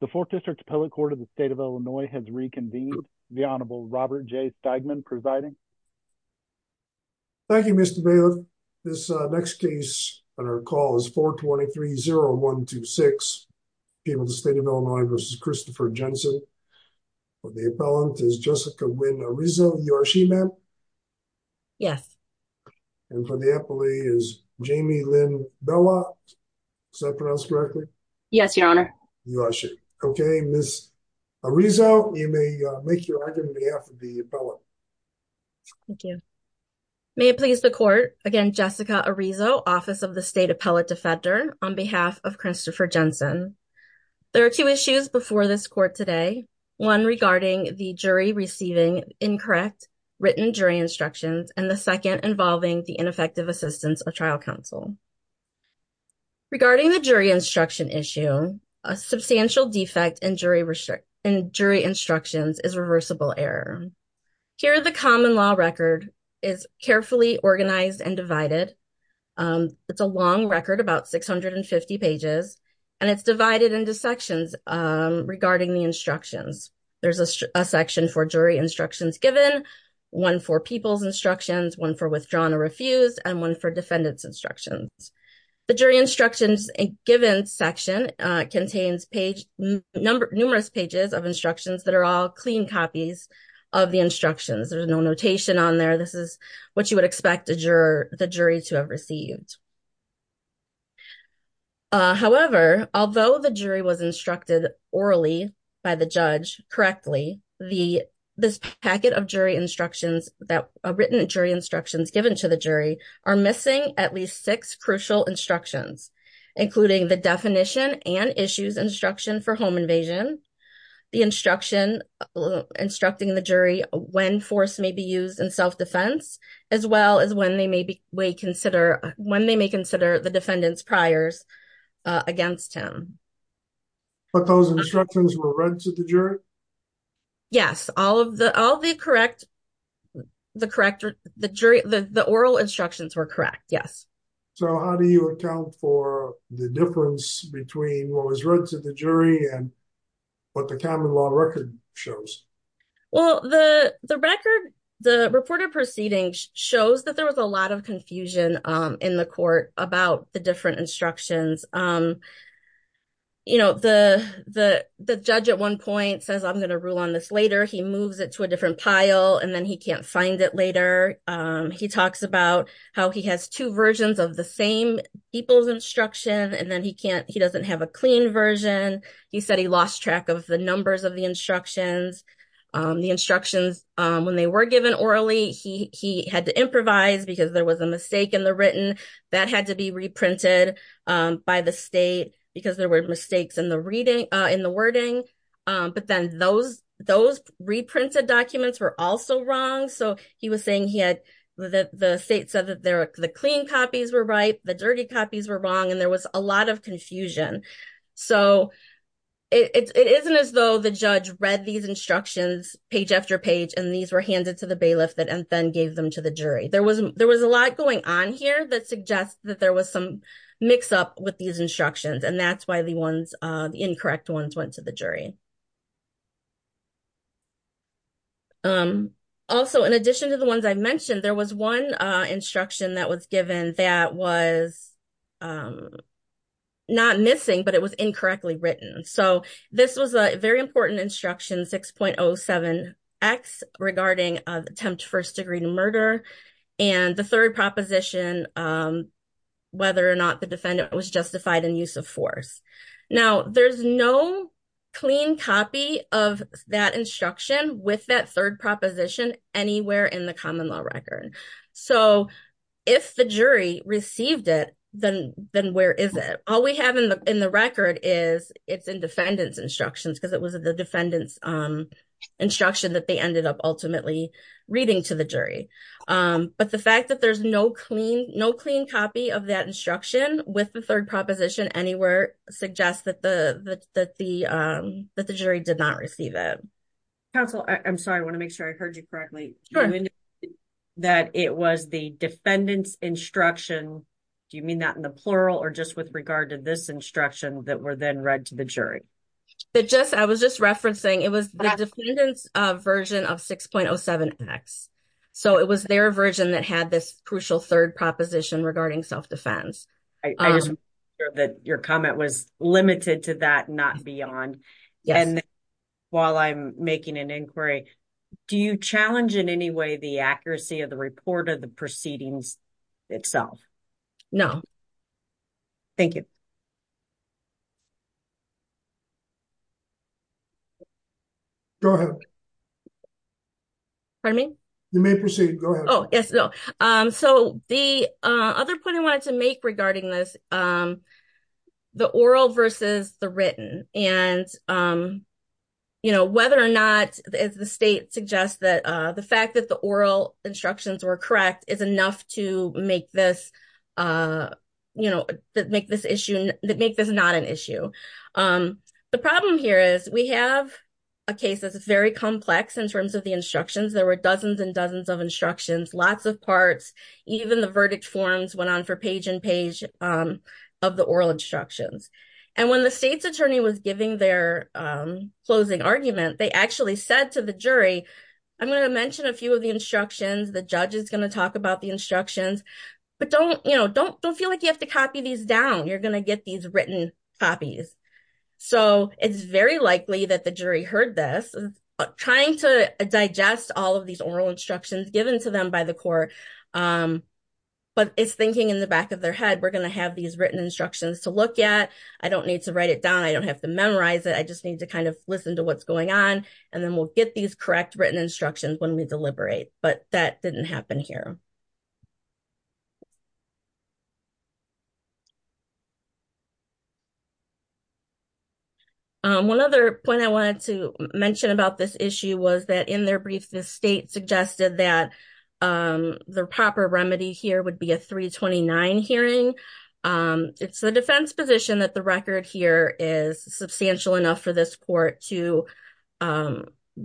The 4th District Appellate Court of the State of Illinois has reconvened. The Honorable Robert J. Stegman providing. Thank you, Mr. Bailiff. This next case on our call is 423-0126, People of the State of Illinois v. Christopher Jensen. For the appellant is Jessica Wynne Arizzo. You are she, ma'am? Yes. And for the appellee is Jamie Lynn Bella. Is that pronounced correctly? Yes, Your Honor. You are she. Okay, Ms. Arizzo, you may make your argument on behalf of the appellant. Thank you. May it please the Court, again, Jessica Arizzo, Office of the State Appellate Defender, on behalf of Christopher Jensen. There are two issues before this Court today, one regarding the jury receiving incorrect written jury instructions, and the second involving the ineffective assistance of trial counsel. Regarding the jury instruction issue, a substantial defect in jury instructions is reversible error. Here, the common law record is carefully organized and divided. It's a long record, about 650 pages, and it's divided into sections regarding the instructions. There's a section for jury instructions given, one for people's instructions, one for withdrawn or refused, and one for defendant's instructions. The jury instructions given section contains numerous pages of instructions that are all clean copies of the instructions. There's no notation on there. This is what you would expect the jury to have received. However, although the jury was instructed orally by the judge correctly, this packet of jury instructions, written jury instructions given to the jury, are missing at least six crucial instructions, including the definition and issues instruction for home invasion, the instruction instructing the jury when force may be used in self-defense, as well as when they may consider the defendant's priors against him. But those instructions were read to the jury? Yes, all of the correct, the correct, the jury, the oral instructions were correct, yes. So how do you account for the difference between what was read to the jury and what the common law record shows? Well, the record, the reported proceedings shows that there was a lot of confusion in the court about the different instructions. The judge at one point says, I'm going to rule on this later. He moves it to a different pile, and then he can't find it later. He talks about how he has two versions of the same people's instruction, and then he can't, he doesn't have a clean version. He said he lost track of the numbers of the instructions. The instructions, when they were given orally, he had to improvise because there was a mistake in the written that had to be reprinted by the state because there were mistakes in the wording. But then those reprinted documents were also wrong. So he was saying he had, the state said that the clean copies were right, the dirty copies were wrong, and there was a lot of confusion. So it isn't as though the judge read these instructions page after page, and these were handed to the bailiff and then gave them to the jury. There was a lot going on here that suggests that there was some mix-up with these instructions, and that's why the incorrect ones went to the jury. Also, in addition to the ones I mentioned, there was one instruction that was given that was not missing, but it was incorrectly written. So this was a very important instruction, 6.07x, regarding attempt first degree to murder, and the third proposition, whether or not the defendant was justified in use of force. Now, there's no clean copy of that instruction with that third proposition anywhere in the common law record. So if the jury received it, then where is it? All we have in the record is it's in defendant's instructions because it was the defendant's ultimately reading to the jury. But the fact that there's no clean copy of that instruction with the third proposition anywhere suggests that the jury did not receive it. Counsel, I'm sorry, I want to make sure I heard you correctly. That it was the defendant's instruction, do you mean that in the plural or just with regard to this instruction that were then read to the jury? I was just referencing, it was the defendant's version of 6.07x. So it was their version that had this crucial third proposition regarding self-defense. I just want to make sure that your comment was limited to that, not beyond. While I'm making an inquiry, do you challenge in any way the accuracy of the report of the proceedings itself? No. Thank you. Go ahead. Pardon me? You may proceed. Go ahead. Oh, yes. So the other point I wanted to make regarding this, the oral versus the written, and whether or not the state suggests that the fact that the oral instructions were correct is enough to make this not an issue. The problem here is we have a case that's very complex in terms of the instructions. There were dozens and dozens of instructions, lots of parts, even the verdict forms went on for page and page of the oral instructions. And when the state's attorney was giving their closing argument, they actually said to the jury, I'm going to mention a few of the instructions, the judge is going to talk about the instructions, but don't feel like you have to copy these down. You're going to get these written copies. So it's very likely that the jury heard this, trying to digest all of these oral instructions given to them by the court. But it's thinking in the back of their head, we're going to have these written instructions to look at. I don't need to write it down. I don't have to memorize it. I just need to kind of listen to what's going on. And then we'll get these correct written instructions when we deliberate. But that didn't happen here. One other point I wanted to mention about this issue was that in their brief, the state suggested that the proper remedy here would be a 329 hearing. It's the defense position that the for this court to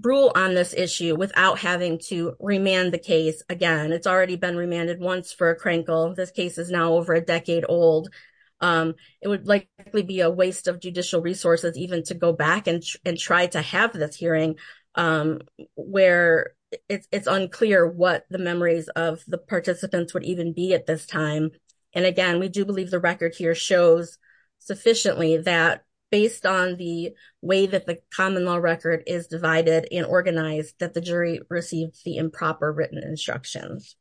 rule on this issue without having to remand the case. Again, it's already been remanded once for a crankle. This case is now over a decade old. It would likely be a waste of judicial resources even to go back and try to have this hearing where it's unclear what the memories of the participants would even be at this time. And again, we do believe the record here sufficiently that based on the way that the common law record is divided and organized that the jury received the improper written instructions.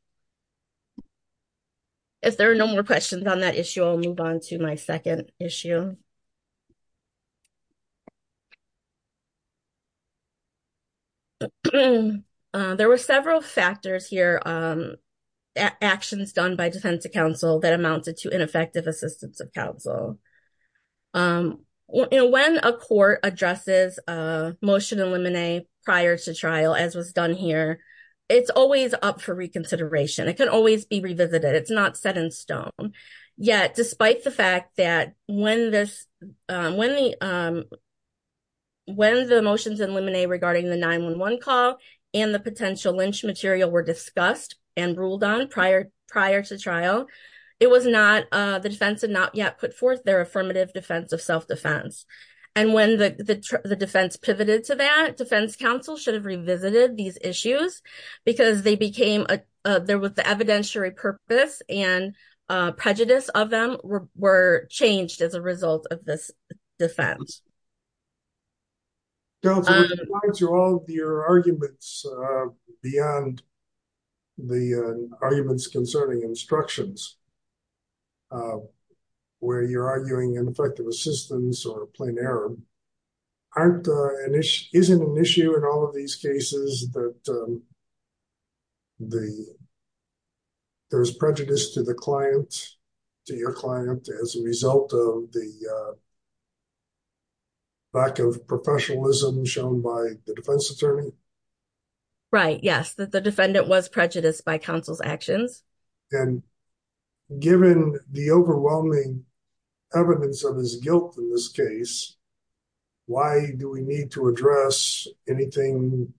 If there are no more questions on that issue, I'll move on to my second issue. There were several factors here, the actions done by defense to counsel that amounted to ineffective assistance of counsel. When a court addresses a motion in limine prior to trial as was done here, it's always up for reconsideration. It can always be revisited. It's not set in stone. Yet despite the fact that when the motions in limine regarding the 911 call and the potential lynch material were discussed and ruled on prior to trial, the defense had not yet put forth their affirmative defense of self-defense. And when the defense pivoted to that, defense counsel should have revisited these as a result of this defense. Counselor, to all of your arguments beyond the arguments concerning instructions where you're arguing ineffective assistance or a plain error, isn't an issue in all of these cases that there's prejudice to the client, to your client as a result of the lack of professionalism shown by the defense attorney? Right, yes, that the defendant was prejudiced by counsel's actions. And given the overwhelming evidence of his guilt in this case, why do we need to address anything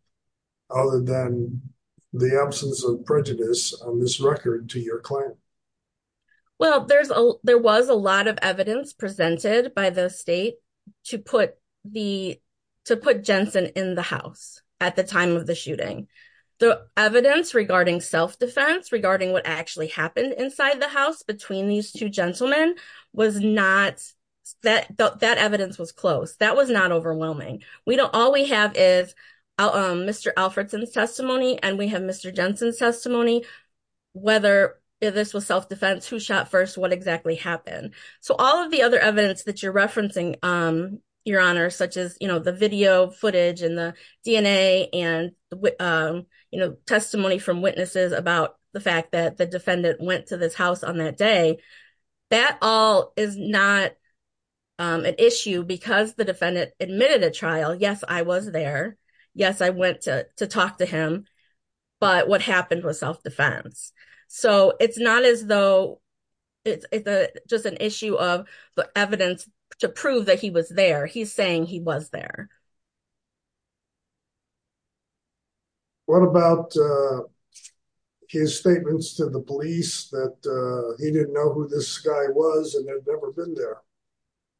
other than the absence of prejudice on this record to your client? Well, there was a lot of evidence presented by the state to put Jensen in the house at the time of the shooting. The evidence regarding self-defense, regarding what actually happened inside the house between these two gentlemen, that evidence was close. That was not overwhelming. All we have is Mr. Alfredson's testimony and we have Mr. Jensen's testimony, whether this was self-defense, who shot first, what exactly happened. So all of the other evidence that you're referencing, Your Honor, such as the video footage and the DNA and testimony from witnesses about the fact that the defendant went to this house on that day, that all is not an issue because the defendant admitted a trial. Yes, I was there. Yes, I went to talk to him. But what happened was self-defense. So it's not as though it's just an issue of the evidence to prove that he was there. He's saying he was there. What about his statements to the police that he didn't know who this guy was and had never been there?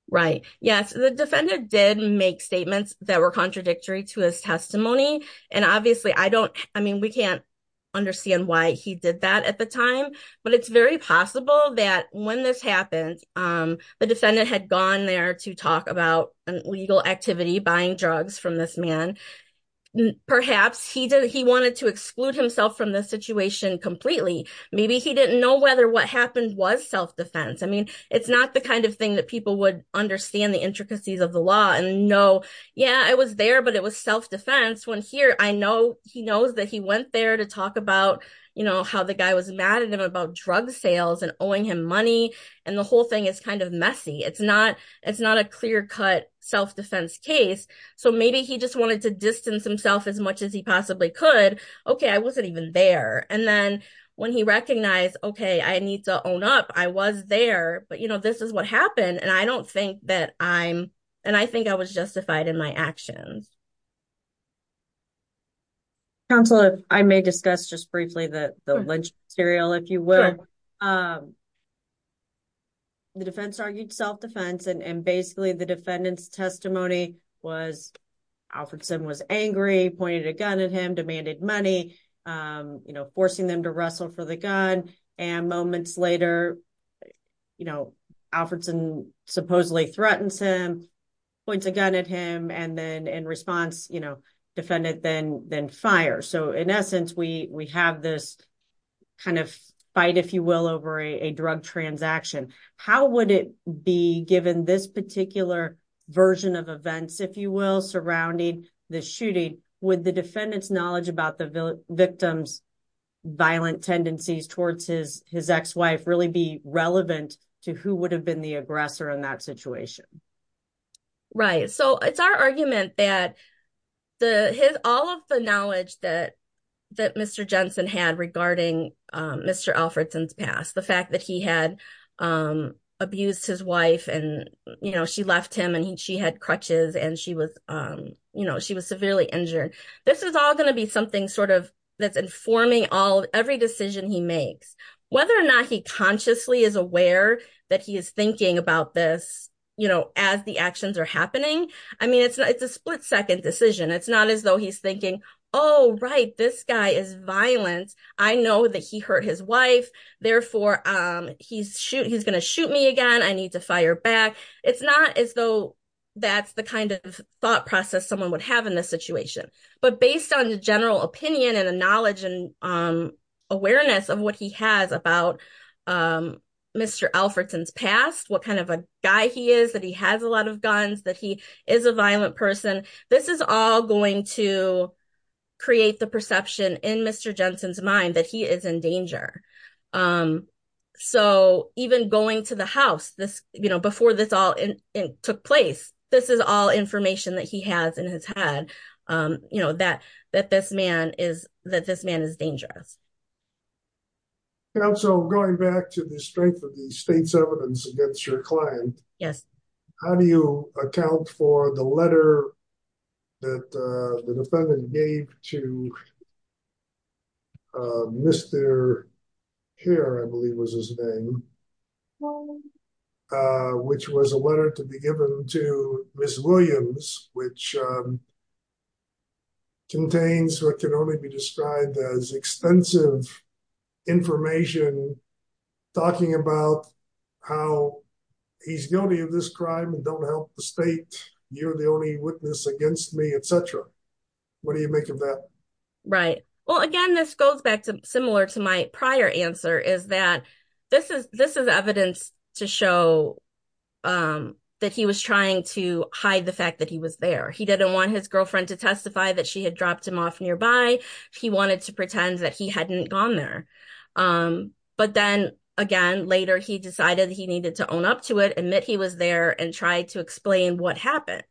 Right. Yes, the defendant did make statements that were contradictory to his testimony. And obviously, I don't, I mean, we can't understand why he did that at the time, but it's very possible that when this happened, the defendant had gone there to talk about an illegal activity, buying drugs from this man. Perhaps he wanted to exclude himself from the situation completely. Maybe he didn't know whether what happened was self-defense. I mean, it's not the kind of thing that people would understand the intricacies of the law and know, yeah, I was there, but it was self-defense when here I know he knows that he went there to talk about, you know, how the guy was mad at him about drug sales and owing him money. And the whole thing is kind of messy. It's not it's not a clear cut self-defense case. So maybe he just wanted to distance himself as much as he possibly could. OK, I wasn't even there. And then when he recognized, OK, I need to own up. I was there. But, you know, this is what happened. And I don't think that I'm and I think I was justified in my actions. Counselor, I may discuss just briefly that the lynch serial, if you will. The defense argued self-defense and basically the defendant's testimony was Alfredson was angry, pointed a gun at him, demanded money, you know, forcing them to wrestle for the gun. And moments later, you know, Alfredson supposedly threatens him, points a gun at him and then in response, you know, defendant then then fire. So in essence, we we have this kind of fight, if you will, over a drug transaction. How would it be given this particular version of events, if you will, surrounding the shooting with the defendant's knowledge about the victim's violent tendencies towards his his ex-wife really be relevant to who would have been the aggressor in that situation? Right. So it's our argument that the his all of the knowledge that that Mr. Jensen had regarding Mr. Alfredson's past, the fact that he had abused his wife and, you know, she left him and she had crutches and she was, you know, she was severely injured. This is all going to be something sort of that's informing all every decision he makes, whether or not he consciously is aware that he is thinking about this, you know, as the actions are happening. I mean, it's it's a split second decision. It's not as though he's thinking, oh, right, this guy is violent. I know that he hurt his wife. Therefore, he's shoot he's going to shoot me again. I need to fire back. It's not as though that's the kind of thought process someone would have in this situation. But based on the general opinion and the knowledge and awareness of what he has about Mr. Alfredson's past, what kind of a guy he is, that he has a lot of guns, that he is a violent person. This is all going to create the perception in Mr. Alfredson that he is in danger. So even going to the house this, you know, before this all took place, this is all information that he has in his head, you know, that that this man is that this man is dangerous. And also going back to the strength of the state's evidence against your client. Yes. How do you account for the letter that the defendant gave to Mr. Hare, I believe was his name, which was a letter to be given to Ms. Williams, which contains what can only be described as extensive information talking about how he's guilty of this crime and don't help the state. You're the only witness against me, etc. What do you make of that? Right. Well, again, this goes back to similar to my prior answer is that this is this is evidence to show that he was trying to hide the fact that he was there. He didn't want his girlfriend to testify that she had dropped him off nearby. He wanted to pretend that he hadn't gone there. But then again, later, he decided he needed to own up to it, admit he was there and try to explain what happened.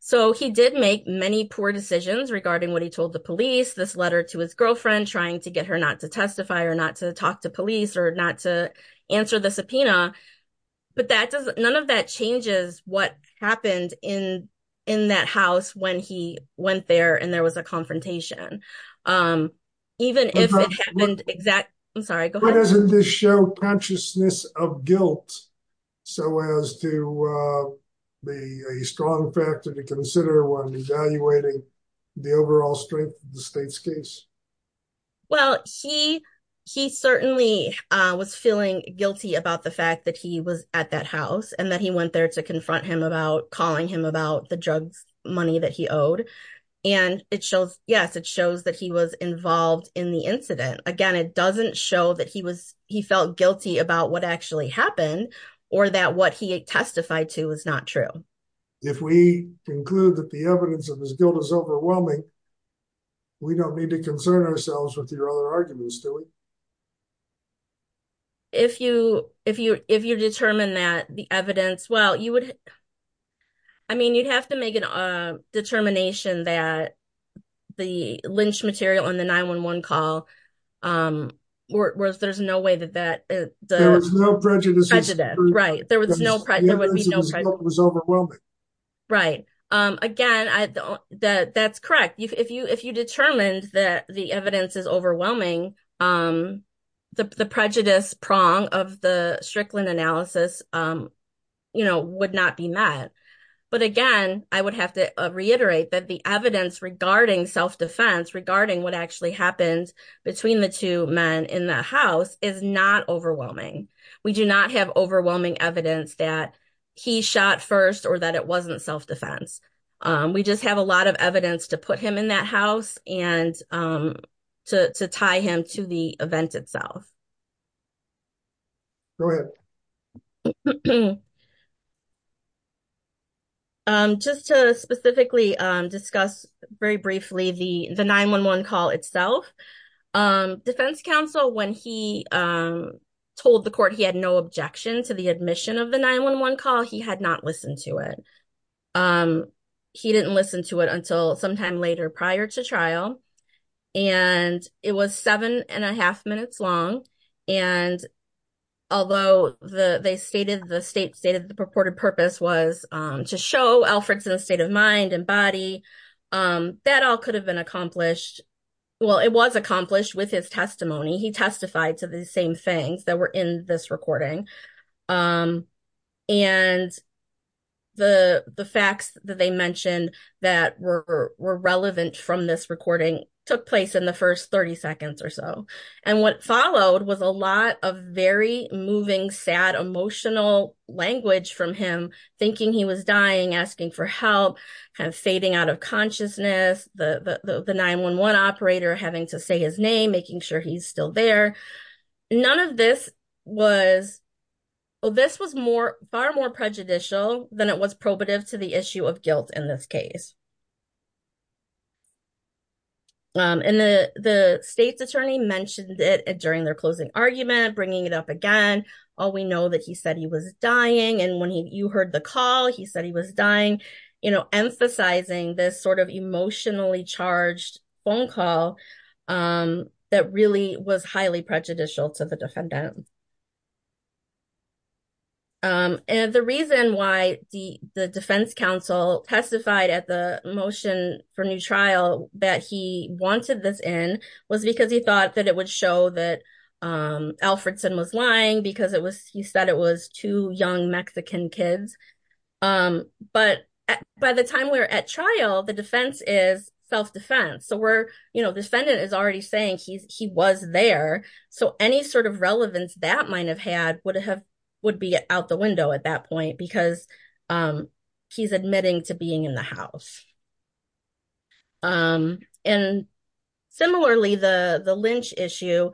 So he did make many poor decisions regarding what he told the police, this letter to his girlfriend, trying to get her not to testify or not to talk to police or not to answer the subpoena. But that doesn't none of that changes what happened in in that house when he went there and there was a confrontation, even if it happened exact. I'm sorry. Why doesn't this show consciousness of guilt so as to be a strong factor to consider when evaluating the overall strength of the state's case? Well, he he certainly was feeling guilty about the fact that he was at that house and that he there to confront him about calling him about the drugs money that he owed. And it shows yes, it shows that he was involved in the incident. Again, it doesn't show that he was he felt guilty about what actually happened or that what he testified to was not true. If we conclude that the evidence of his guilt is overwhelming, we don't need to concern ourselves with your other arguments, do we? If you if you if you determine that the evidence, well, you would. I mean, you'd have to make a determination that the lynch material on the 911 call was there's no way that that there was no prejudice. Right. There was no there was no overwhelming. Right. Again, I don't that that's correct. If you if you determined that the the prejudice prong of the Strickland analysis, you know, would not be met. But again, I would have to reiterate that the evidence regarding self-defense regarding what actually happened between the two men in the house is not overwhelming. We do not have overwhelming evidence that he shot first or that it wasn't self-defense. We just have a lot of evidence to put him in that out. Just to specifically discuss very briefly, the the 911 call itself, defense counsel, when he told the court he had no objection to the admission of the 911 call, he had not listened to it. He didn't listen to it until sometime later prior to trial. And it was seven and a half minutes long. And although the they stated the state stated the purported purpose was to show Alfred's in a state of mind and body that all could have been accomplished. Well, it was accomplished with his testimony. He testified to the same things that were in this recording. And the the facts that they mentioned that were relevant from this recording took place in the first 30 seconds or so. And what followed was a lot of very moving, sad, emotional language from him, thinking he was dying, asking for help, kind of fading out of consciousness, the 911 operator having to say his name, making sure he's still there. None of this was, this was more far more prejudicial than it was probative to the issue of guilt in this case. And the the state's attorney mentioned it during their closing argument, bringing it up again, all we know that he said he was dying. And when he you heard the call, he said he was dying, you know, emphasizing this sort of emotionally charged phone call that really was highly prejudicial to the defendant. And the reason why the Defense Council testified at the motion for new trial that he wanted this in was because he thought that it would show that Alfredson was lying because it was he said it was two young Mexican kids. But by the time we're at trial, the defense is self defense. So we're, you know, defendant is already saying he's he was there. So any sort of relevance that might have had would have would be out the window at that point, because he's admitting to being in the house. And similarly, the the Lynch issue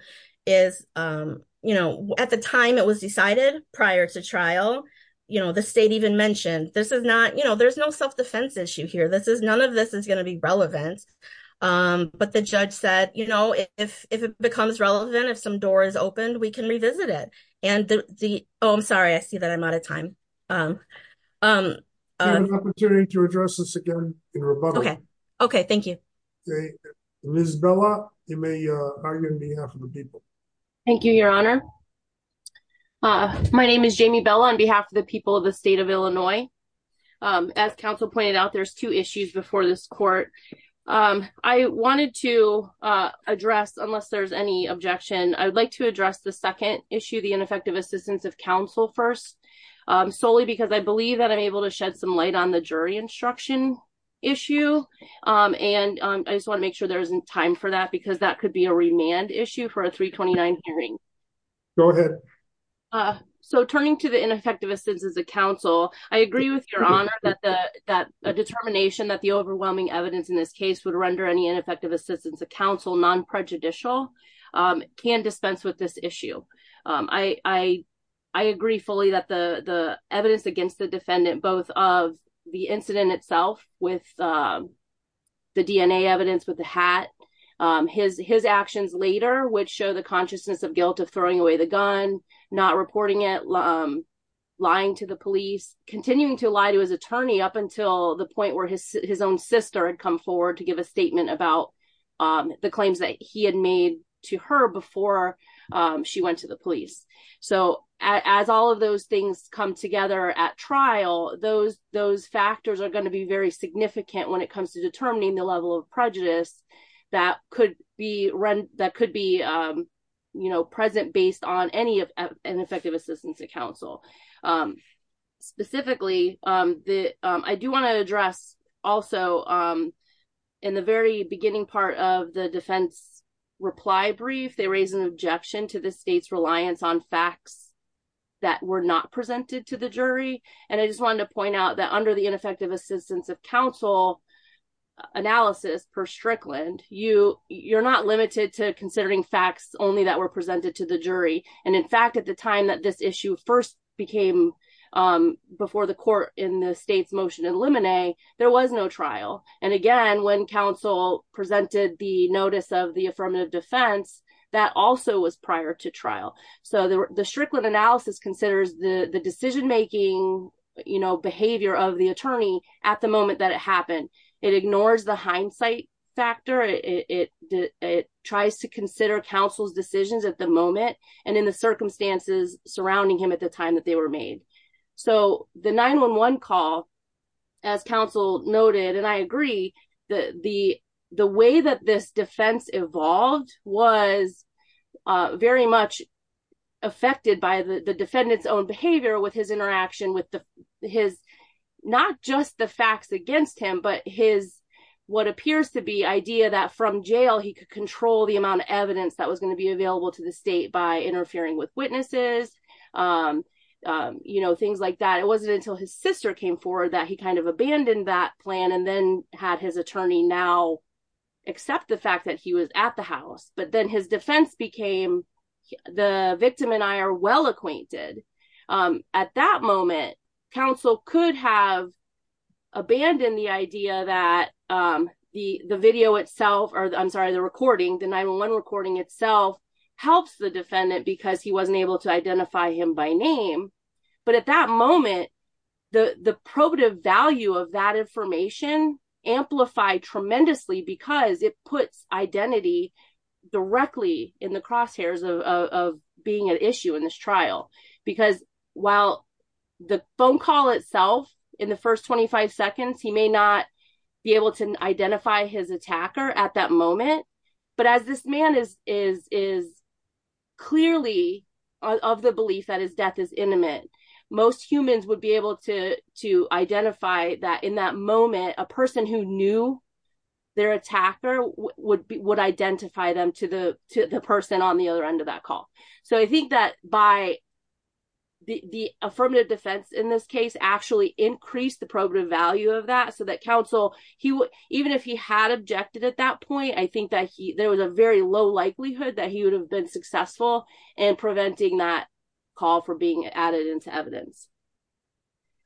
is, you know, at the time it was decided prior to trial, you know, the state even mentioned this is not you know, there's no self defense issue here. This is none of this is going to be relevant. But the judge said, you know, if it becomes relevant, if some door is opened, we can revisit it. And the Oh, I'm sorry, I see that I'm out of time. opportunity to address this again. Okay, okay. Thank you. Miss Bella, you may argue on behalf of the people. Thank you, Your Honor. My name is Jamie Bella on behalf of the people of the state of Illinois. As counsel pointed out, there's two issues before this court. I wanted to address unless there's any objection, I would like to address the second issue, the ineffective assistance of counsel first, solely because I believe that I'm able to shed some light on the jury instruction issue. And I just want to make sure there isn't time for that, because that could be a remand issue for a 329 hearing. Go ahead. So turning to the ineffective assistance as a counsel, I agree with your honor that the that a determination that the overwhelming evidence in this case would render any ineffective assistance of counsel non prejudicial can dispense with this issue. I, I agree fully that the the evidence against the defendant, both of the incident itself with the DNA evidence with the hat, his his actions later, which show the continuing to lie to his attorney up until the point where his his own sister had come forward to give a statement about the claims that he had made to her before she went to the police. So as all of those things come together at trial, those those factors are going to be very significant when it comes to determining the level of prejudice that could be run that could be, you know, present based on any of an effective assistance to counsel. Specifically, the I do want to address also, in the very beginning part of the defense reply brief, they raise an objection to the state's reliance on facts that were not presented to the jury. And I just wanted to point out that under the ineffective assistance of counsel analysis per Strickland, you you're not limited to considering facts only that were presented to the jury. And in fact, at the time that this issue first became before the court in the state's motion in limine, there was no trial. And again, when counsel presented the notice of the affirmative defense, that also was prior to trial. So the Strickland analysis considers the decision making, you know, behavior of the attorney at the moment that it happened, it ignores the hindsight factor, it tries to consider counsel's decisions at the moment, and in the circumstances surrounding him at the time that they were made. So the 911 call, as counsel noted, and I agree that the the way that this defense evolved was very much affected by the defendant's own behavior with his interaction with his, not just the facts against him, but his, what appears to be idea that from jail, he could control the amount of evidence that was going to be available to the state by interfering with witnesses. You know, things like that. It wasn't until his sister came forward that he kind of abandoned that plan and then had his attorney now accept the fact that he was at the house, but then his defense became, the victim and I are well acquainted. At that moment, counsel could have abandoned the idea that the video itself, or I'm sorry, the recording, the 911 recording itself, helps the defendant because he wasn't able to identify him by name. But at that moment, the probative value of that information amplified tremendously because it directly in the crosshairs of being an issue in this trial. Because while the phone call itself, in the first 25 seconds, he may not be able to identify his attacker at that moment. But as this man is clearly of the belief that his death is intimate, most humans would be able to identify that in that moment, a person who knew their attacker would identify them to the person on the other end of that call. So I think that by the affirmative defense in this case actually increased the probative value of that so that counsel, even if he had objected at that point, I think that there was a very low likelihood that he would have been successful in preventing that for being added into evidence.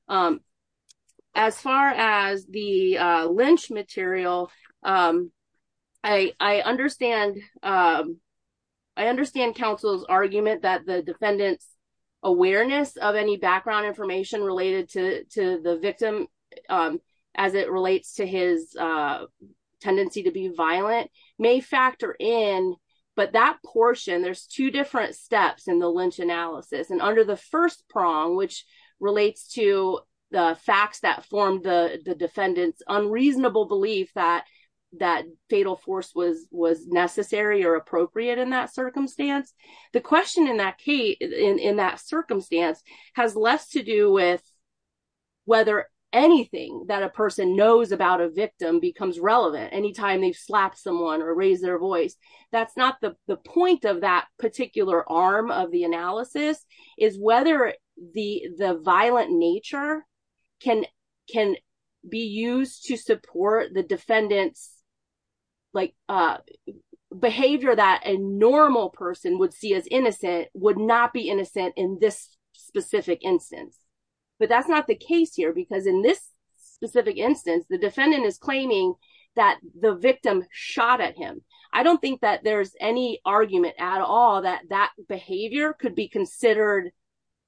As far as the lynch material, I understand counsel's argument that the defendant's awareness of any background information related to the victim as it relates to his tendency to be violent may factor in. But that portion, there's two different steps in the lynch analysis. And under the first prong, which relates to the facts that formed the defendant's unreasonable belief that that fatal force was necessary or appropriate in that circumstance, the question in that circumstance has less to do with whether anything that a person knows about a victim becomes relevant anytime they've slapped someone or raised their voice. That's not the is whether the violent nature can be used to support the defendant's behavior that a normal person would see as innocent would not be innocent in this specific instance. But that's not the case here because in this specific instance, the defendant is claiming that the victim shot at him. I don't think that there's any argument at all that that behavior could be considered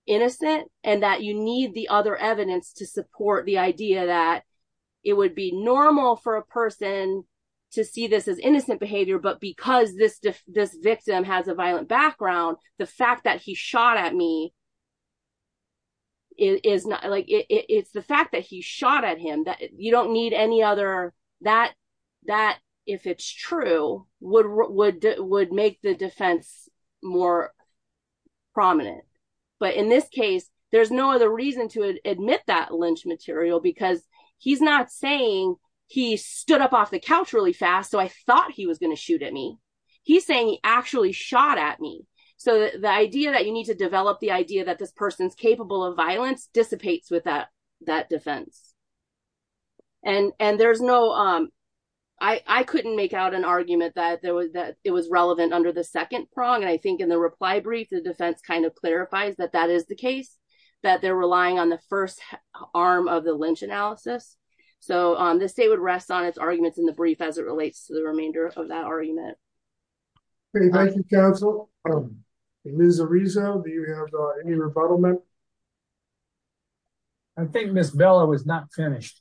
innocent and that you need the other evidence to support the idea that it would be normal for a person to see this as innocent behavior. But because this victim has a violent background, the fact that he shot at me, it's the fact that he shot at him that you don't need any other, that if it's true, would make the defense more prominent. But in this case, there's no other reason to admit that lynch material because he's not saying he stood up off the couch really fast, so I thought he was going to shoot at me. He's saying he actually shot at me. So the idea that you need to develop the idea that this person's capable of violence dissipates with that defense. I couldn't make out an argument that it was relevant under the second prong, and I think in the reply brief, the defense kind of clarifies that that is the case, that they're relying on the first arm of the lynch analysis. So this state would rest on its arguments in the brief as it relates to the remainder of that argument. Thank you, counsel. Ms. Arizo, do you have any rebuttalment? I think Ms. Bella was not finished.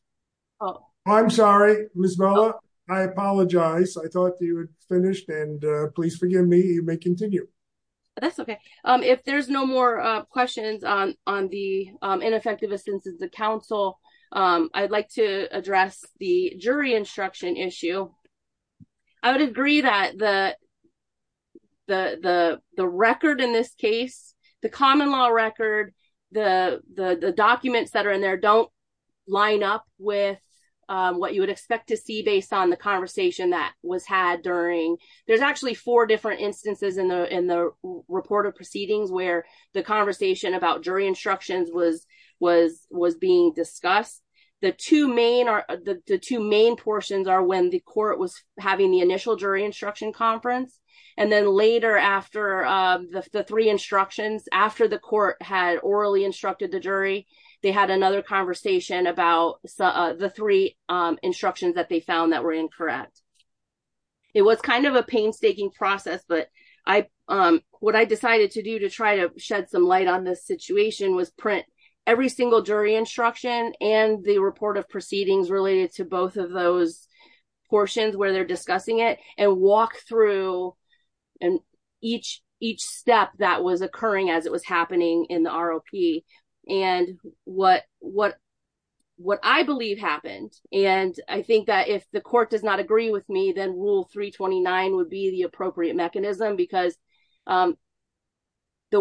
Oh, I'm sorry, Ms. Bella. I apologize. I thought you had finished, and please forgive me. You may continue. That's okay. If there's no more questions on the ineffectiveness of the counsel, I'd like to address the jury instruction issue. I would agree that the record in this case, the common law record, the documents that are in there don't line up with what you would expect to see based on the conversation that was had during there's actually four different instances in the report of proceedings where the conversation about court was having the initial jury instruction conference, and then later after the three instructions, after the court had orally instructed the jury, they had another conversation about the three instructions that they found that were incorrect. It was kind of a painstaking process, but what I decided to do to try to shed some light on this situation was print every single jury instruction and the report of proceedings related to both of those portions where they're discussing it and walk through each step that was occurring as it was happening in the ROP and what I believe happened. I think that if the court does not agree with me, then Rule 329 would be the appropriate mechanism because the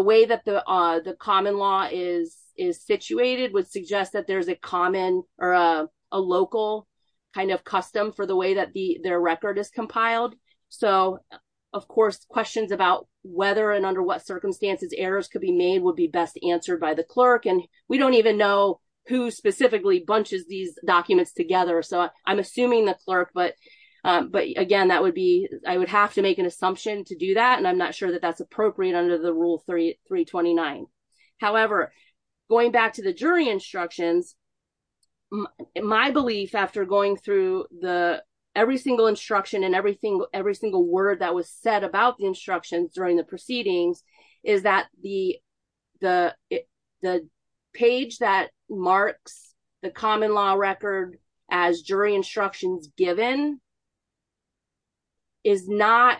way that the common law is situated would suggest that there's a common or a local kind of custom for the way that their record is compiled. Of course, questions about whether and under what circumstances errors could be made would be best answered by the clerk and we don't even know who specifically bunches these documents together. I'm assuming the clerk, but again, I would have to make an assumption to do that and I'm not sure that that's appropriate under the Rule 329. However, going back to the jury instructions, my belief after going through every single instruction and every single word that was said about the instructions during the proceedings is that the page that marks the common law record as jury instructions given is not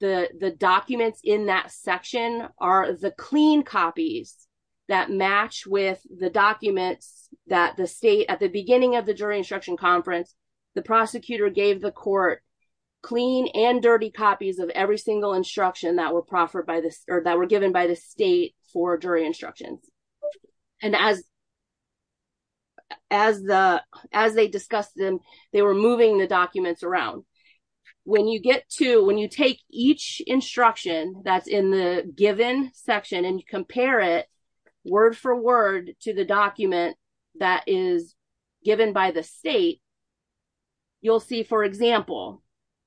the documents in that section are the clean copies that match with the documents that the state, at the beginning of the jury instruction conference, the prosecutor gave the court clean and dirty copies of every single instruction that were given by the state for jury instructions. As they discussed them, they were moving the documents around. When you take each instruction that's in the given section and you compare it word for word to the document that is given by the state, you'll see, for example,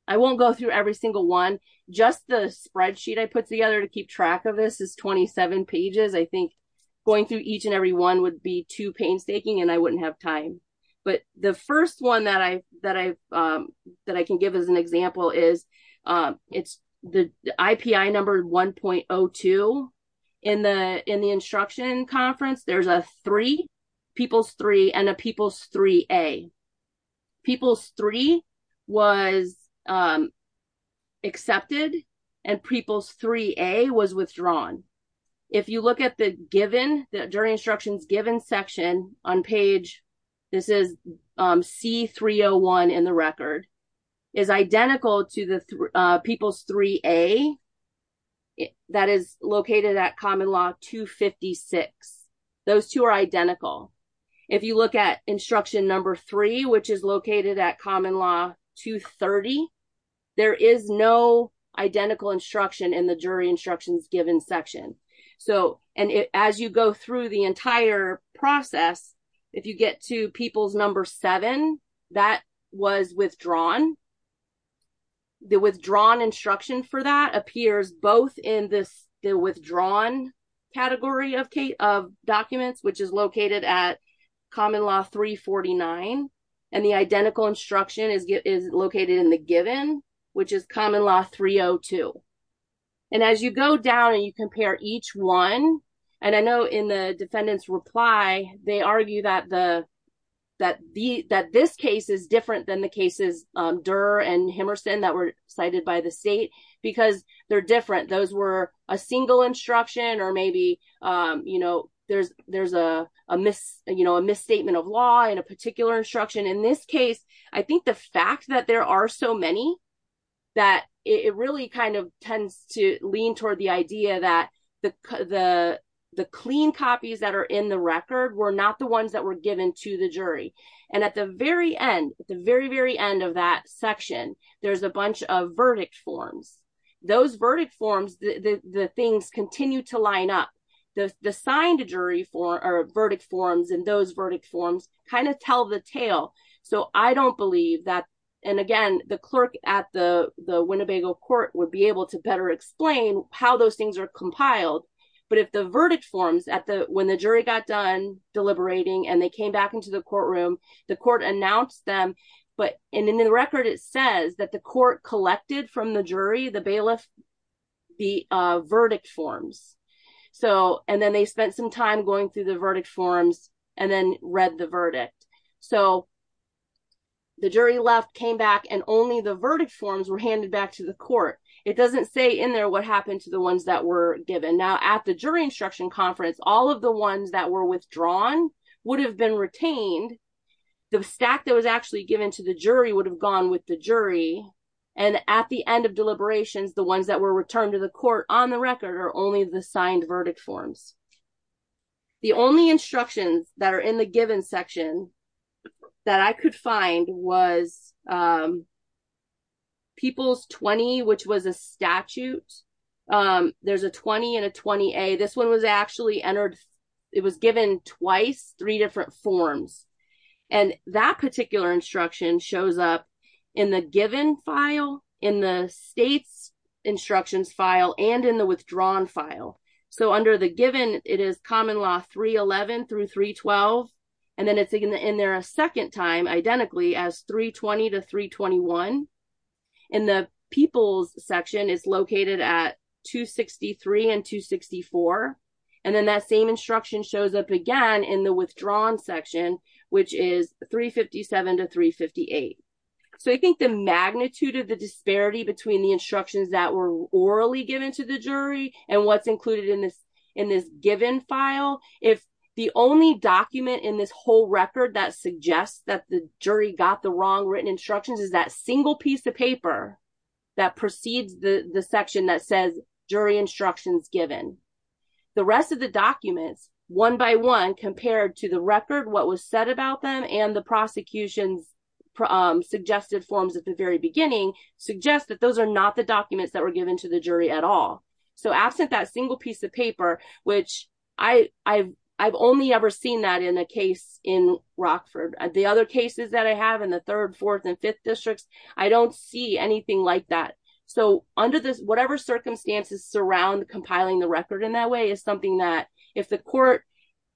I won't go through every single one. Just the spreadsheet I put together to keep track of this is 27 pages. I think going through each and every one would be too painstaking and I wouldn't have time. The first one that I can give as an example is the IPI number 1.02. In the instruction conference, there's a three, people's was accepted and people's 3A was withdrawn. If you look at the given, the jury instructions given section on page, this is C301 in the record, is identical to the people's 3A that is located at common law 256. Those two are identical. If you look at instruction number three, which is located at common law 230, there is no identical instruction in the jury instructions given section. As you go through the entire process, if you get to people's number seven, that was withdrawn. The withdrawn instruction for that appears both in the withdrawn category of documents, which is located at common law 349. The identical instruction is located in the given, which is common law 302. As you go down and you compare each one, and I know in the defendant's reply, they argue that this case is different than the cases Durr and Himerson that were cited by the misstatement of law in a particular instruction. In this case, I think the fact that there are so many that it really tends to lean toward the idea that the clean copies that are in the record were not the ones that were given to the jury. At the very end of that section, there's a bunch of verdict forms. Those verdict forms tell the tale. Again, the clerk at the Winnebago court would be able to better explain how those things are compiled. When the jury got done deliberating and they came back into the courtroom, the court announced them. In the record, it says that the court collected from the jury the verdict forms. Then they spent some time going through the verdict forms and then read the verdict. The jury left, came back, and only the verdict forms were handed back to the court. It doesn't say in there what happened to the ones that were given. Now, at the jury instruction conference, all of the ones that were withdrawn would have been retained. The stack that was actually given to the jury would have gone with the jury, and at the end of deliberations, the ones that were returned to the court on the record are only the signed verdict forms. The only instructions that are in the given section that I could find was people's 20, which was a statute. There's a 20 and a 20A. This one was actually entered. It was given twice, three different forms. That particular instruction shows up in the given file, in the state's instructions file, and in the withdrawn file. Under the given, it is common law 311 through 312. Then it's in there a second time, identically as 320 to 321. The people's section is located at 263 and 264. That same instruction shows up again in the withdrawn section, which is 357 to 358. I think the magnitude of the disparity between the instructions that were orally given to the jury and what's included in this given file, if the only document in this whole record that suggests that the jury got the wrong written instructions is that single piece of paper that precedes the section that says, jury instructions given. The rest of the documents, one by one, compared to the record, what was said about them, and the prosecution's suggested forms at the very beginning, suggest that those are not the documents that were given to the jury at all. Absent that single piece of paper, which I've only ever seen that in a case in Rockford. The other cases that I have in the third, fourth, and fifth districts, I don't see anything like that. Under this, whatever circumstances surround compiling the record in that way is something that if the court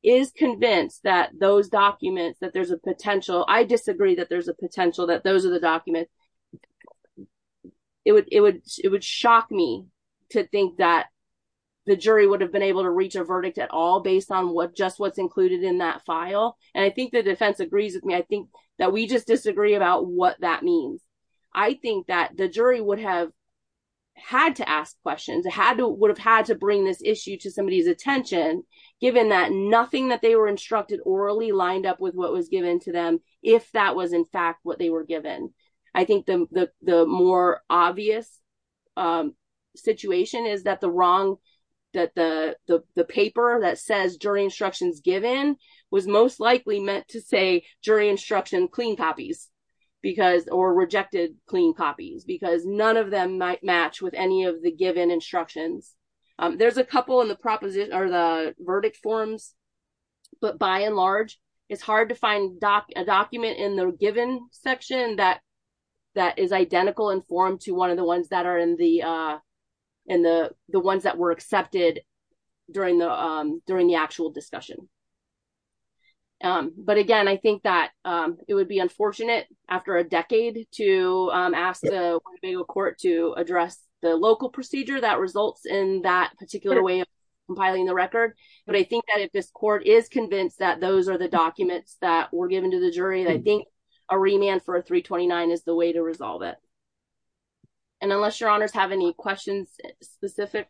is convinced that those documents, that there's a potential, I disagree that there's a potential that those are the documents. It would shock me to think that the jury would have been able to reach a verdict at all based on just what's included in that file. I think the defense agrees with me. I think that we just disagree about what that means. I think that the jury would have had to ask questions, would have had to bring this issue to somebody's attention, given that nothing that they were instructed orally lined up with what was given to them, if that was in fact what they were given. I think the more obvious situation is that the wrong, that the paper that says jury instructions given was most likely meant to say jury instruction clean copies because or rejected clean copies because none of them might match with any of the given instructions. There's a couple in the verdict forms, but by and large, it's hard to find a document in the section that is identical in form to one of the ones that were accepted during the actual discussion. But again, I think that it would be unfortunate after a decade to ask the court to address the local procedure that results in that particular way of compiling the record. But I think that if this court is convinced that those are the documents that were given to the remand for a 329 is the way to resolve it. And unless your honors have any questions, specific,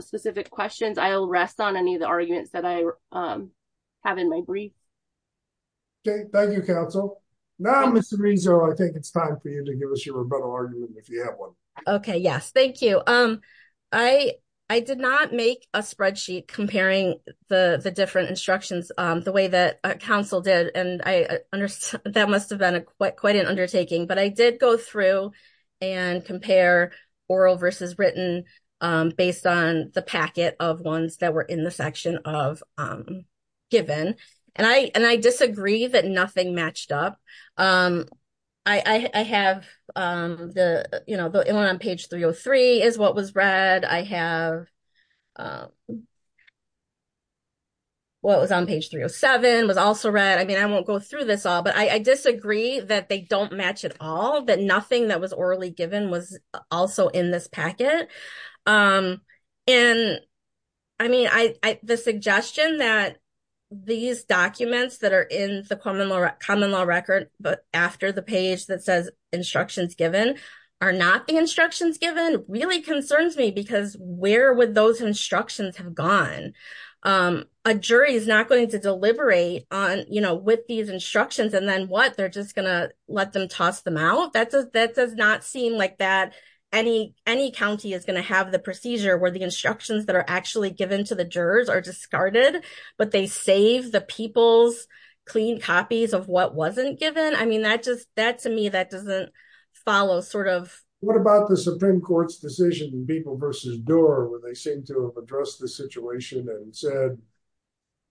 specific questions, I will rest on any of the arguments that I have in my brief. Thank you, counsel. Now, Mr. Rezo, I think it's time for you to give us your argument. Okay, yes, thank you. Um, I, I did not make a spreadsheet comparing the different instructions, the way that counsel did. And I understand that must have been a quite quite an undertaking, but I did go through and compare oral versus written based on the packet of ones that were in the section of given and I and I disagree that nothing matched up. I have the you know, was on page 307 was also read. I mean, I won't go through this all but I disagree that they don't match at all that nothing that was orally given was also in this packet. And I mean, I the suggestion that these documents that are in the common law record, but after the page that says instructions given are not the instructions given really concerns me because where would those instructions have gone? A jury is not going to deliberate on you know, with these instructions, and then what they're just gonna let them toss them out. That's a that does not seem like that any any county is going to have the procedure where the instructions that are actually given to the jurors are discarded, but they save the people's clean copies of what wasn't given. I mean, that just that to me that doesn't follow sort of what about the Supreme Court's decision people versus door where they seem to have addressed the situation and said,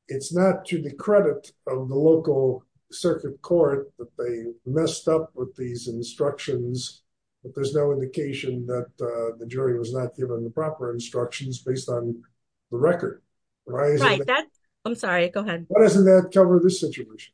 it's not to the credit of the local circuit court that they messed up with these instructions. But there's no indication that the jury was not given the proper instructions based on the record, right? That's, I'm sorry, go ahead. Doesn't that cover the situation?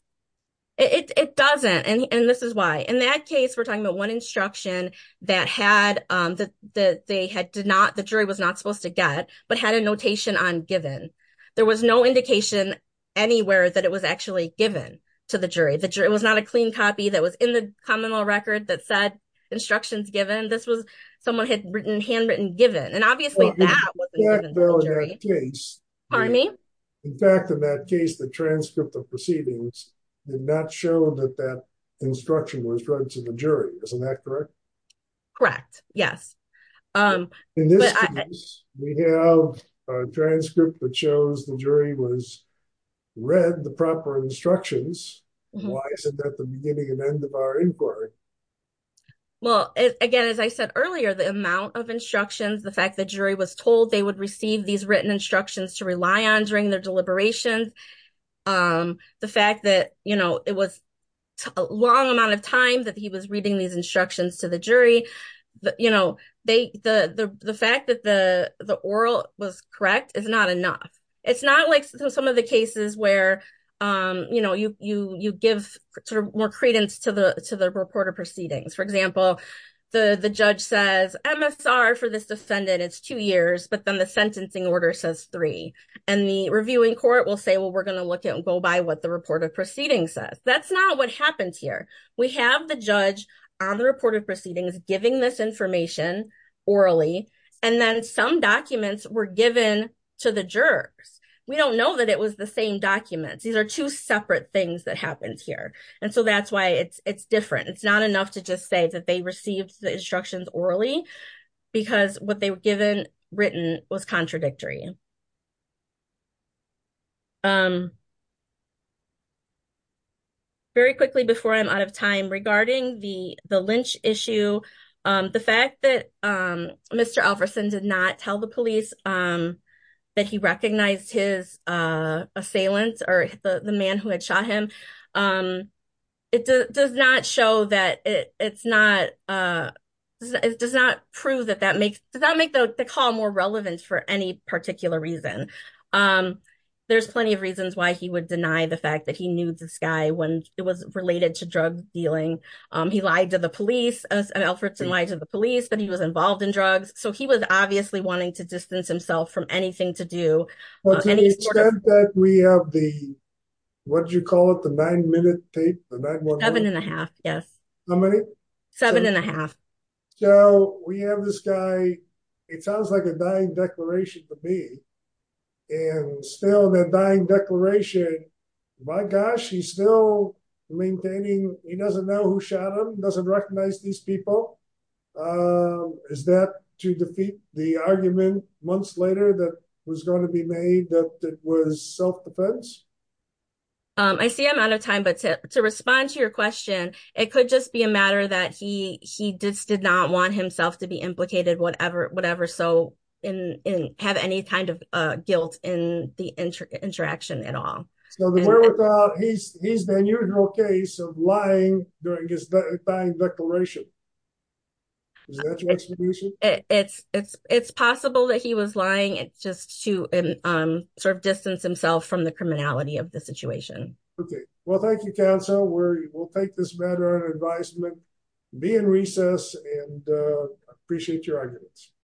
It doesn't. And this is why in that case, we're talking about one instruction that had that they had to not the jury was not supposed to get but had a notation on given. There was no indication anywhere that it was actually given to the jury. The jury was not a clean copy that was in the common law record that said instructions given this was someone had written handwritten given and obviously that was the case. Pardon me. In fact, in that case, the transcript of proceedings did not show that that instruction was read to the jury. Isn't that correct? Correct. Yes. In this case, we have a transcript that shows the jury was read the proper instructions. Why is it that the beginning and end of our inquiry? Well, again, as I said earlier, the amount of instructions, the fact that jury was told they receive these written instructions to rely on during their deliberations. The fact that, you know, it was a long amount of time that he was reading these instructions to the jury. But you know, they the the fact that the the oral was correct is not enough. It's not like some of the cases where, you know, you you you give more credence to the to the reporter proceedings. For example, the the judge says MSR for this defendant, it's two years, but then the sentencing order says three. And the reviewing court will say, well, we're going to look at and go by what the report of proceedings says. That's not what happens here. We have the judge on the report of proceedings giving this information orally. And then some documents were given to the jurors. We don't know that it was the same documents. These are two separate things that happens here. And so that's why it's it's different. It's not enough to just say that they received the instructions orally because what they were given written was contradictory. Very quickly before I'm out of time regarding the the Lynch issue, the fact that Mr. Alverson did not tell the police that he recognized his assailant or the man who had shot him. It does not show that it's not it does not prove that that makes that make the call more relevant for any particular reason. There's plenty of reasons why he would deny the fact that he knew this guy when it was related to drug dealing. He lied to the police and Alverson lied to the police that he was involved in drugs. So he was obviously wanting to distance himself from seven and a half. Yes. How many? Seven and a half. So we have this guy. It sounds like a dying declaration for me and still the dying declaration. My gosh, he's still maintaining. He doesn't know who shot him. Doesn't recognize these people. Is that to defeat the argument months later that was going to be made that it was self-defense? I see I'm out of time, but to respond to your question, it could just be a matter that he he just did not want himself to be implicated, whatever, whatever. So in have any kind of guilt in the interaction at all. He's been usual case of lying during his dying declaration. It's it's it's possible that he was lying. It's just to sort of distance himself from the criminality of the situation. OK, well, thank you, counsel, where you will take this matter of advisement, be in recess and appreciate your arguments.